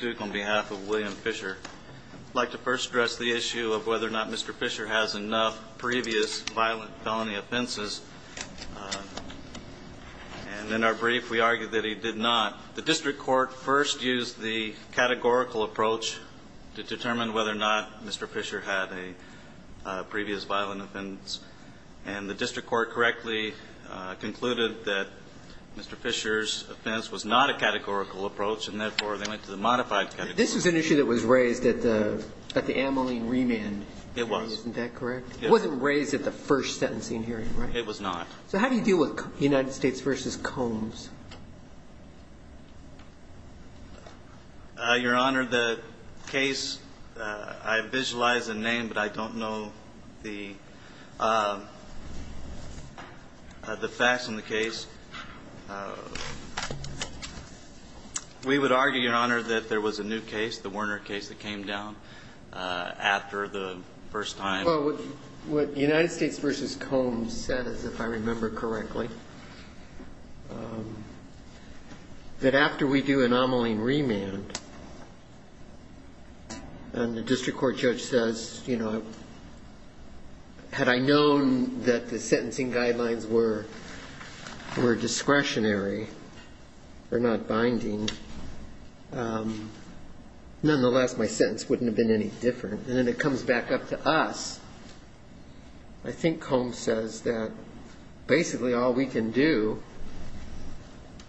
of William Fischer. I'd like to first address the issue of whether or not Mr. Fischer has enough previous violent felony offenses. And in our brief, we argued that he did not. The district court first used the categorical approach to determine whether or not Mr. Fischer had a previous violent offense. And the district court correctly concluded that Mr. Fischer's And therefore, they went to the modified categorical approach. This was an issue that was raised at the Ameline remand hearing, isn't that correct? It was. It wasn't raised at the first sentencing hearing, right? It was not. So how do you deal with United States v. Combs? Your Honor, the case, I visualize a name, but I don't know the facts on the case. We would argue, Your Honor, that there was a new case, the Werner case that came down after the first time. Well, what United States v. Combs says, if I remember correctly, that after we do an Ameline remand, and the district court judge says, you know, had I known that the sentencing guidelines were discretionary or not binding, nonetheless, my sentence wouldn't have been any different. And then it comes back up to us. I think Combs says that basically all we can do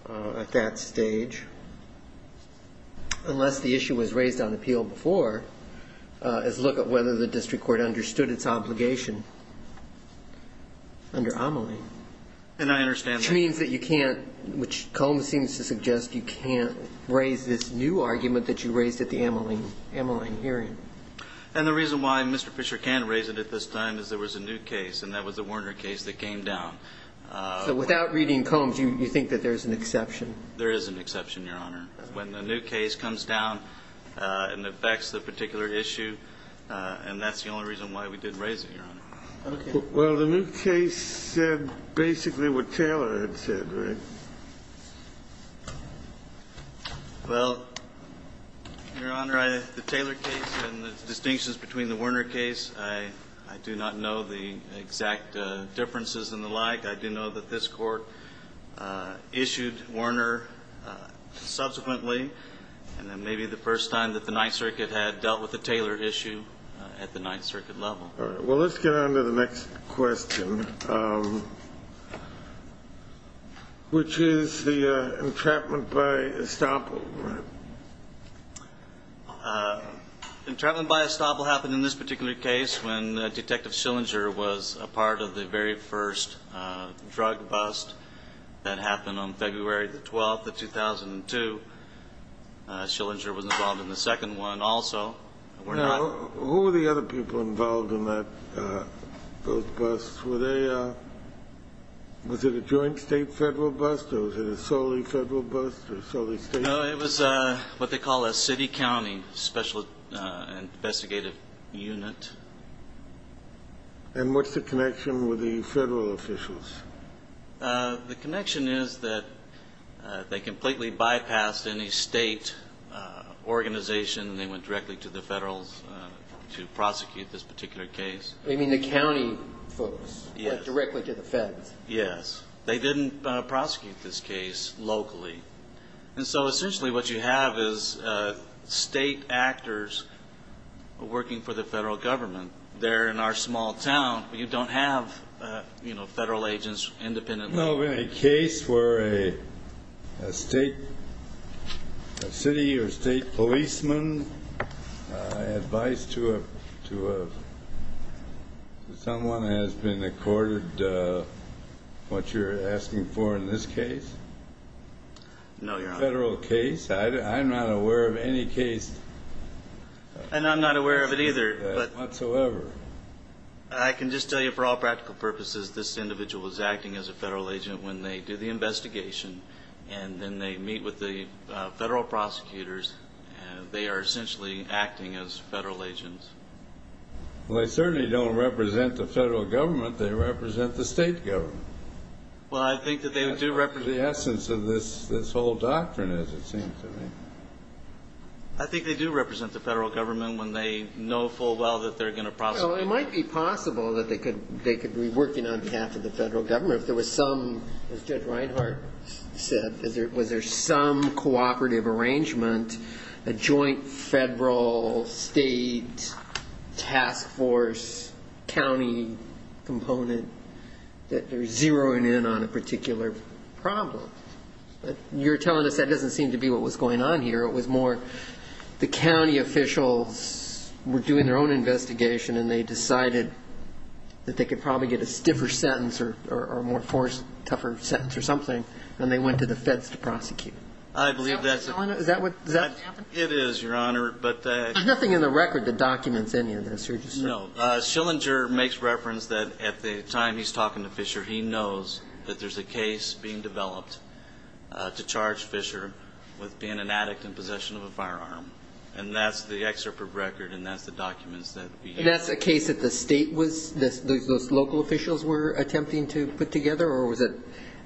at that stage, unless the issue was raised on appeal before, is look at whether the district court understood its obligation under Ameline. And I understand that. Which means that you can't, which Combs seems to suggest, you can't raise this new argument that you raised at the Ameline hearing. And the reason why Mr. Fisher can't raise it at this time is there was a new case, and that was the Werner case that came down. So without reading Combs, you think that there's an exception? There is an exception, Your Honor. When the new case comes down and affects the particular issue, and that's the only reason why we didn't raise it, Your Honor. Okay. Well, the new case said basically what Taylor had said, right? Well, Your Honor, the Taylor case and the distinctions between the Werner case, I do not know the exact differences and the like. I do know that this court issued Werner subsequently, and then maybe the first time that the Ninth Circuit had dealt with a Taylor issue at the Ninth Circuit level. All right. Well, let's get on to the next question, which is the entrapment by estoppel. Entrapment by estoppel happened in this particular case when Detective Schillinger was a part of the very first drug bust that happened on February the 12th of 2002. Schillinger was involved in the second one also. Now, who were the other people involved in those busts? Was it a joint state-federal bust or was it a solely federal bust or solely state? It was what they call a city-county special investigative unit. And what's the connection with the federal officials? The connection is that they completely bypassed any state organization and they went directly to the federals to prosecute this particular case. You mean the county folks went directly to the feds? Yes. They didn't prosecute this case locally. And so essentially what you have is state actors working for the federal government. They're in our small town, but you don't have, you know, federal agents independently. Now, in a case where a state city or state policeman advised to someone has been accorded what you're asking for in this case? No, Your Honor. Federal case. I'm not aware of any case. And I'm not aware of it either. I'm not aware of that whatsoever. I can just tell you for all practical purposes this individual was acting as a federal agent when they do the investigation. And then they meet with the federal prosecutors. They are essentially acting as federal agents. Well, they certainly don't represent the federal government. They represent the state government. Well, I think that they do represent the federal government. That's the essence of this whole doctrine, as it seems to me. I think they do represent the federal government when they know full well that they're going to prosecute. Well, it might be possible that they could be working on behalf of the federal government if there was some, as Judge Reinhart said, was there some cooperative arrangement, a joint federal, state, task force, county component, that they're zeroing in on a particular problem. You're telling us that doesn't seem to be what was going on here. It was more the county officials were doing their own investigation, and they decided that they could probably get a stiffer sentence or a more tougher sentence or something, and they went to the feds to prosecute. I believe that's it. Is that what happened? It is, Your Honor. There's nothing in the record that documents any of this. No. Schillinger makes reference that at the time he's talking to Fisher, he knows that there's a case being developed to charge Fisher with being an addict in possession of a firearm. And that's the excerpt from the record, and that's the documents that we have. And that's a case that the state was, those local officials were attempting to put together, or was it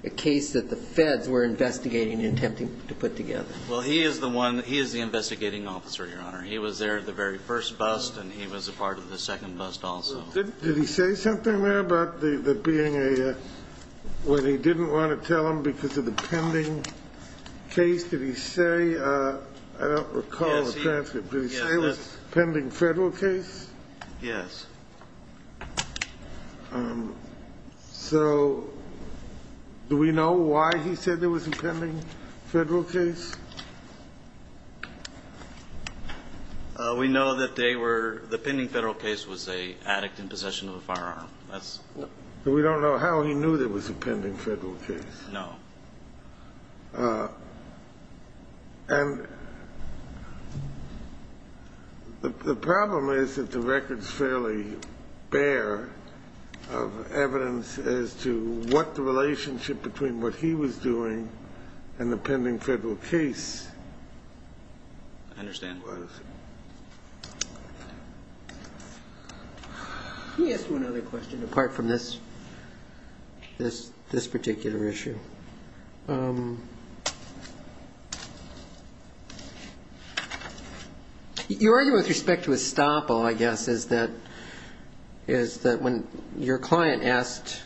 a case that the feds were investigating and attempting to put together? Well, he is the one, he is the investigating officer, Your Honor. He was there the very first bust, and he was a part of the second bust also. Did he say something there about the being a, when he didn't want to tell them because of the pending case? Did he say, I don't recall the transcript, but did he say it was a pending federal case? Yes. So do we know why he said there was a pending federal case? We know that they were, the pending federal case was a addict in possession of a firearm. That's. We don't know how he knew there was a pending federal case. No. And the problem is that the record's fairly bare of evidence as to what the relationship between what he was doing and the pending federal case was. I understand. Let me ask you another question apart from this particular issue. Your argument with respect to Estoppo, I guess, is that when your client asked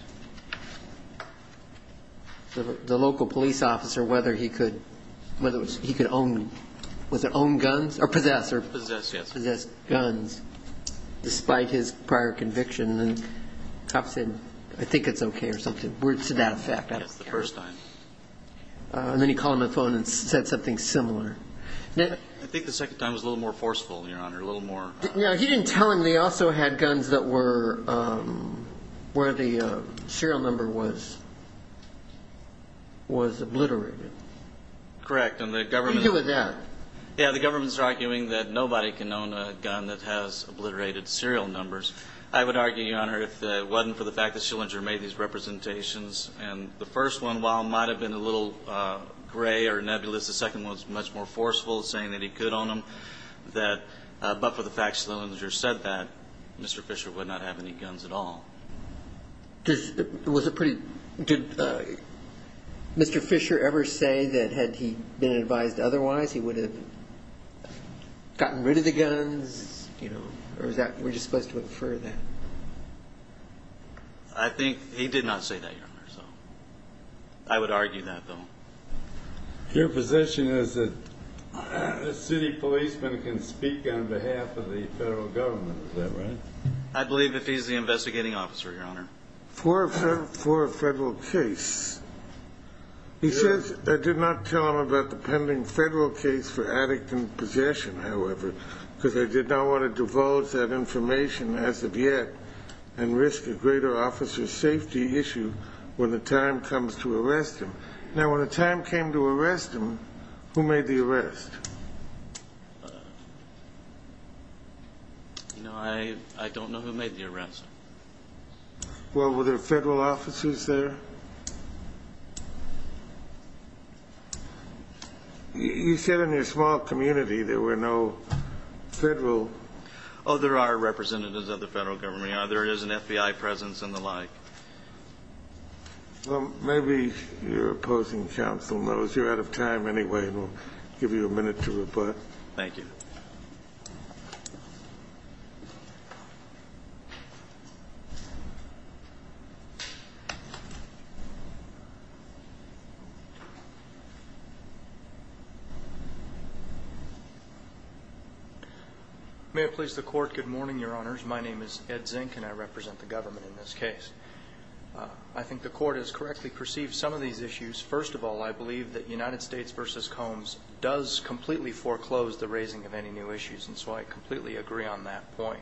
the local police officer whether he could, whether he could own, was it own guns, or possess? Possess, yes. Possess guns, despite his prior conviction. And the cop said, I think it's okay or something, to that effect. And then he called him on the phone and said something similar. I think the second time was a little more forceful, Your Honor, a little more. He didn't tell him they also had guns that were, where the serial number was, was obliterated. And the government. What do you do with that? Yeah, the government's arguing that nobody can own a gun that has obliterated serial numbers. I would argue, Your Honor, if it wasn't for the fact that Schillinger made these representations, and the first one, while it might have been a little gray or nebulous, the second one was much more forceful, saying that he could own them, that but for the fact that Schillinger said that, Mr. Fisher would not have any guns at all. Was it pretty, did Mr. Fisher ever say that had he been advised otherwise, he would have gotten rid of the guns? Or is that, we're just supposed to infer that? I think he did not say that, Your Honor. I would argue that, though. Your position is that a city policeman can speak on behalf of the federal government, is that right? I believe if he's the investigating officer, Your Honor. For a federal case. He says, I did not tell him about the pending federal case for addicting possession, however, because I did not want to divulge that information as of yet and risk a greater officer safety issue when the time comes to arrest him. Now, when the time came to arrest him, who made the arrest? I don't know who made the arrest. Well, were there federal officers there? You said in your small community there were no federal. Oh, there are representatives of the federal government, Your Honor. There is an FBI presence and the like. Well, maybe you're opposing counsel, Mills. You're out of time anyway, and we'll give you a minute to rebut. Thank you. May it please the Court, good morning, Your Honors. My name is Ed Zink, and I represent the government in this case. I think the Court has correctly perceived some of these issues. First of all, I believe that United States v. Combs does completely foreclose the raising of any new issues, and so I completely agree on that point.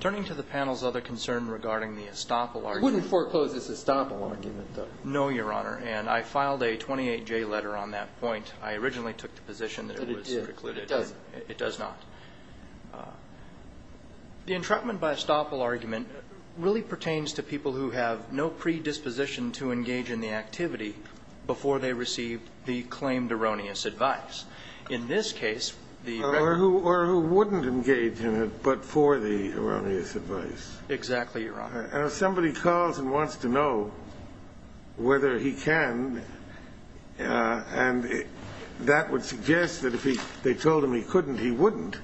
Turning to the panel's other concern regarding the estoppel argument. It wouldn't foreclose this estoppel argument, though. No, Your Honor, and I filed a 28-J letter on that point. I originally took the position that it was recluded. But it did. It doesn't. It does not. The entrapment by estoppel argument really pertains to people who have no predisposition to engage in the activity before they receive the claimed erroneous advice. In this case, the record of the case. Or who wouldn't engage in it but for the erroneous advice. Exactly, Your Honor. And if somebody calls and wants to know whether he can, and that would suggest that if they told him he couldn't, he wouldn't,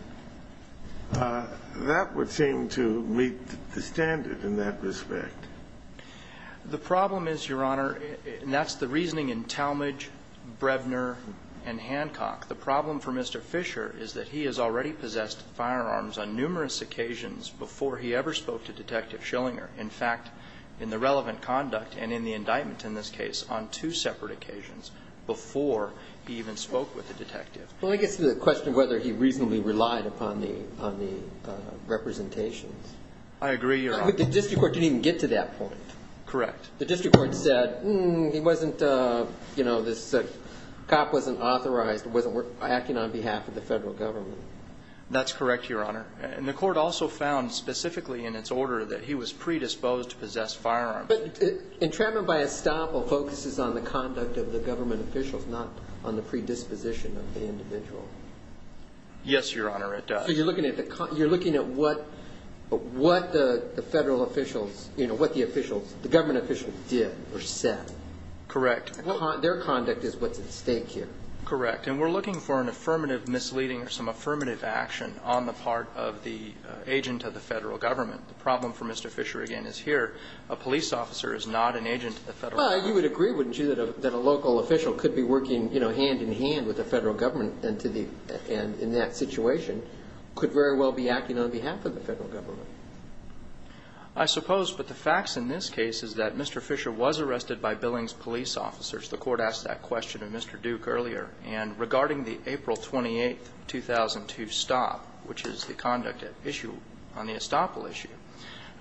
that would seem to meet the standard in that respect. The problem is, Your Honor, and that's the reasoning in Talmadge, Brevner, and Hancock, the problem for Mr. Fisher is that he has already possessed firearms on numerous occasions before he ever spoke to Detective Schillinger. In fact, in the relevant conduct and in the indictment in this case, on two separate occasions before he even spoke with the detective. Well, I guess the question of whether he reasonably relied upon the representations. I agree, Your Honor. The district court didn't even get to that point. Correct. The district court said, hmm, he wasn't, you know, this cop wasn't authorized, wasn't acting on behalf of the federal government. That's correct, Your Honor. And the court also found specifically in its order that he was predisposed to possess firearms. Entrapment by estoppel focuses on the conduct of the government officials, not on the predisposition of the individual. Yes, Your Honor, it does. So you're looking at what the federal officials, you know, what the government officials did or said. Correct. Their conduct is what's at stake here. Correct. And we're looking for an affirmative misleading or some affirmative action on the part of the agent of the federal government. The problem for Mr. Fisher, again, is here a police officer is not an agent of the federal government. Well, you would agree, wouldn't you, that a local official could be working, you know, hand-in-hand with the federal government and in that situation could very well be acting on behalf of the federal government. I suppose. But the facts in this case is that Mr. Fisher was arrested by Billings police officers. The court asked that question of Mr. Duke earlier. And regarding the April 28, 2002 stop, which is the conduct issue on the estoppel issue,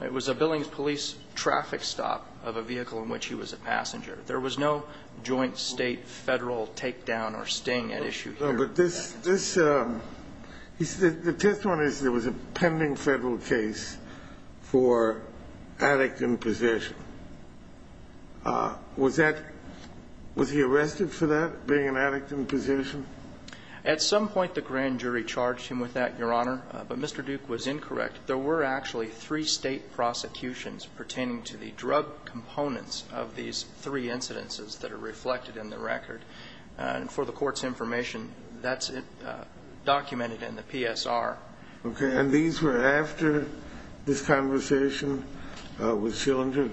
it was a Billings police traffic stop of a vehicle in which he was a passenger. There was no joint state, federal takedown or sting at issue here. No, but this he said the test one is there was a pending federal case for addict imposition. Was that was he arrested for that, being an addict in position? At some point the grand jury charged him with that, Your Honor. But Mr. Duke was incorrect. There were actually three state prosecutions pertaining to the drug components of these three incidences that are reflected in the record. And for the Court's information, that's documented in the PSR. Okay. And these were after this conversation with Shillington?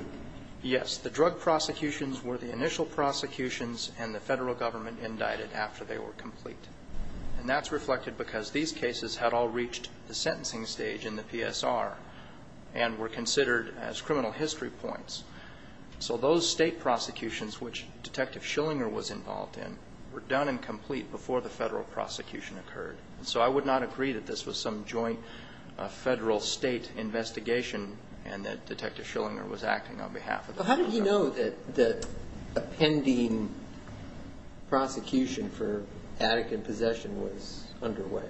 Yes. The drug prosecutions were the initial prosecutions and the federal government indicted after they were complete. And that's reflected because these cases had all reached the sentencing stage in the PSR and were considered as criminal history points. So those state prosecutions, which Detective Schillinger was involved in, were done and complete before the federal prosecution occurred. So I would not agree that this was some joint federal state investigation and that Detective Schillinger was acting on behalf of the federal government. How do you know that a pending prosecution for addict in possession was underway?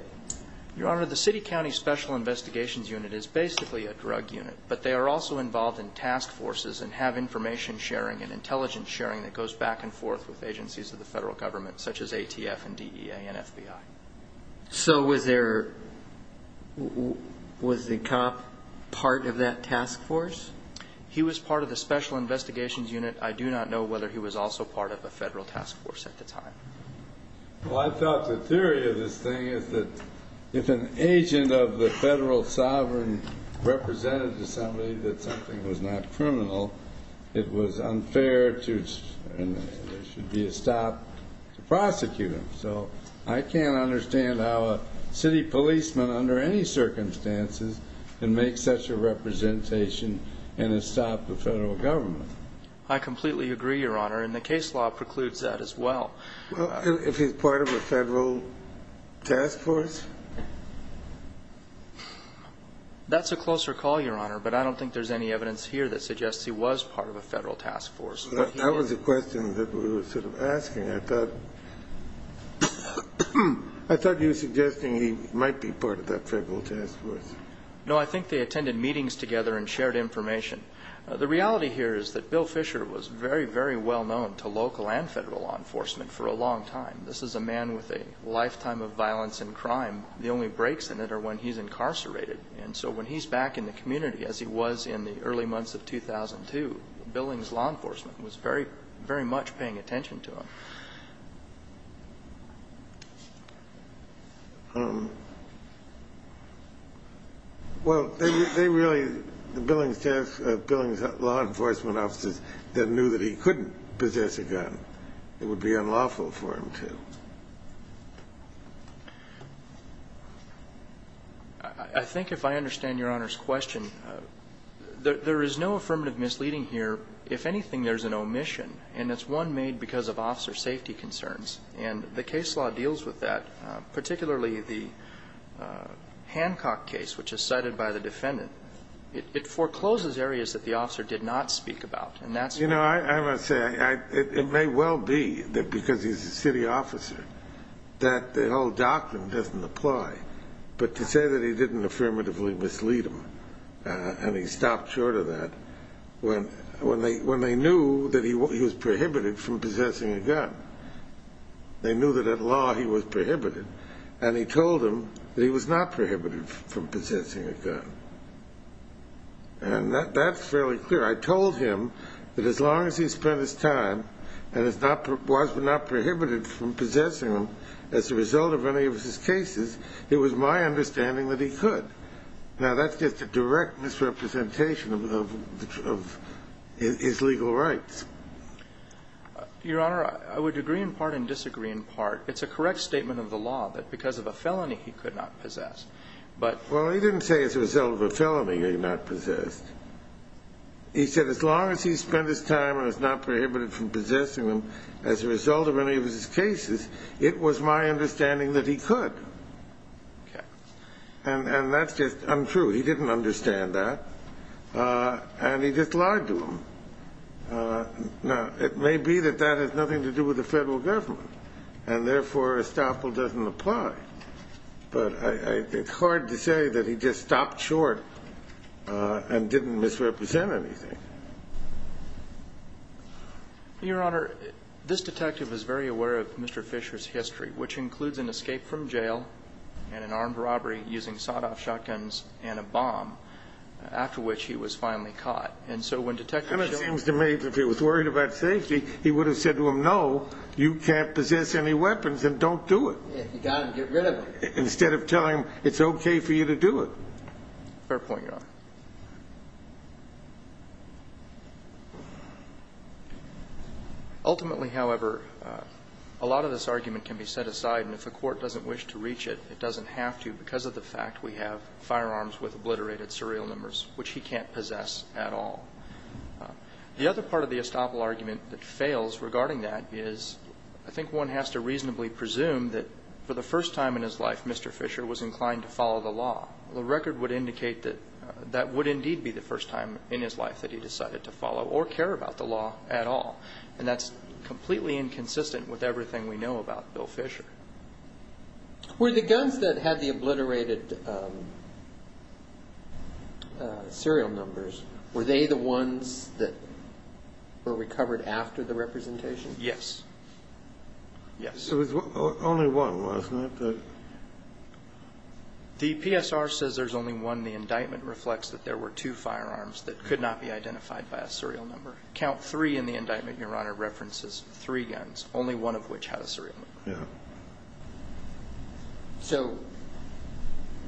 Your Honor, the City County Special Investigations Unit is basically a drug unit, but they are also involved in task forces and have information sharing and intelligence sharing that goes back and forth with agencies of the federal government, such as ATF and DEA and FBI. So was the cop part of that task force? He was part of the Special Investigations Unit. I do not know whether he was also part of a federal task force at the time. Well, I thought the theory of this thing is that if an agent of the federal sovereign represented to somebody that something was not criminal, it was unfair and there should be a stop to prosecute him. So I can't understand how a city policeman, under any circumstances, can make such a representation and stop the federal government. I completely agree, Your Honor, and the case law precludes that as well. Well, if he's part of a federal task force? That's a closer call, Your Honor, but I don't think there's any evidence here that suggests he was part of a federal task force. That was the question that we were sort of asking. I thought you were suggesting he might be part of that federal task force. No, I think they attended meetings together and shared information. The reality here is that Bill Fisher was very, very well known to local and federal law enforcement for a long time. This is a man with a lifetime of violence and crime. The only breaks in it are when he's incarcerated. And so when he's back in the community, as he was in the early months of 2002, Billings law enforcement was very much paying attention to him. Well, they really, the Billings task, Billings law enforcement officers that knew that he couldn't possess a gun, it would be unlawful for him to. I think if I understand Your Honor's question, there is no affirmative misleading here. If anything, there's an omission, and it's one made because of officer safety. And the case law deals with that, particularly the Hancock case, which is cited by the defendant. It forecloses areas that the officer did not speak about. You know, I must say it may well be that because he's a city officer that the whole doctrine doesn't apply. But to say that he didn't affirmatively mislead him and he stopped short of that, when they knew that he was prohibited from possessing a gun. They knew that at law he was prohibited, and he told them that he was not prohibited from possessing a gun. And that's fairly clear. I told him that as long as he spent his time and was not prohibited from possessing them, as a result of any of his cases, it was my understanding that he could. Now, that's just a direct misrepresentation of his legal rights. Your Honor, I would agree in part and disagree in part. It's a correct statement of the law that because of a felony he could not possess. Well, he didn't say as a result of a felony he was not possessed. He said as long as he spent his time and was not prohibited from possessing them, as a result of any of his cases, it was my understanding that he could. And that's just untrue. He didn't understand that, and he just lied to them. Now, it may be that that has nothing to do with the federal government, and therefore estoppel doesn't apply. But I think it's hard to say that he just stopped short and didn't misrepresent anything. Your Honor, this detective is very aware of Mr. Fisher's history, which includes an escape from jail and an armed robbery using sawed-off shotguns and a bomb, after which he was finally caught. And so when Detective Shiller... And it seems to me that if he was worried about safety, he would have said to him, no, you can't possess any weapons and don't do it. If you got them, get rid of them. Instead of telling him, it's okay for you to do it. Fair point, Your Honor. Ultimately, however, a lot of this argument can be set aside, and if the court doesn't wish to reach it, it doesn't have to because of the fact we have firearms with obliterated serial numbers, which he can't possess at all. The other part of the estoppel argument that fails regarding that is I think one has to reasonably presume that for the first time in his life, Mr. Fisher was inclined to follow the law. The record would indicate that that was not the case. That would indeed be the first time in his life that he decided to follow or care about the law at all, and that's completely inconsistent with everything we know about Bill Fisher. Were the guns that had the obliterated serial numbers, were they the ones that were recovered after the representation? Yes. Yes. There was only one, wasn't it? The PSR says there's only one. And the indictment reflects that there were two firearms that could not be identified by a serial number. Count three in the indictment, Your Honor, references three guns, only one of which had a serial number. Yeah. So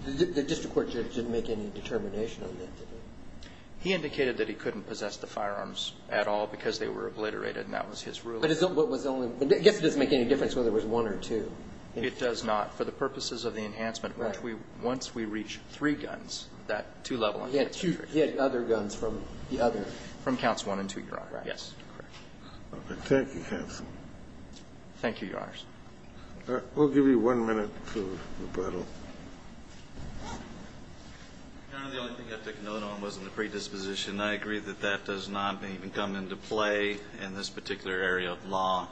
the district court judge didn't make any determination on that, did he? He indicated that he couldn't possess the firearms at all because they were obliterated, and that was his ruling. But is that what was the only one? I guess it doesn't make any difference whether it was one or two. It does not. But it does not for the purposes of the enhancement. Right. Once we reach three guns, that two-level enhancement. He had two other guns from the other. From counts one and two, Your Honor. Right. Yes. Okay. Thank you, counsel. Thank you, Your Honors. All right. We'll give you one minute for rebuttal. Your Honor, the only thing I took note on wasn't the predisposition. I agree that that does not even come into play in this particular area of law.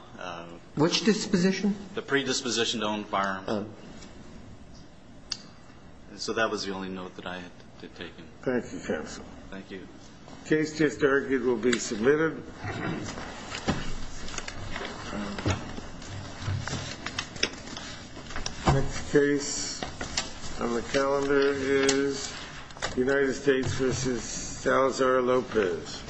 Which disposition? The predisposition to own firearms. So that was the only note that I had taken. Thank you, counsel. Thank you. The case just argued will be submitted. Next case on the calendar is United States v. Salazar-Lopez.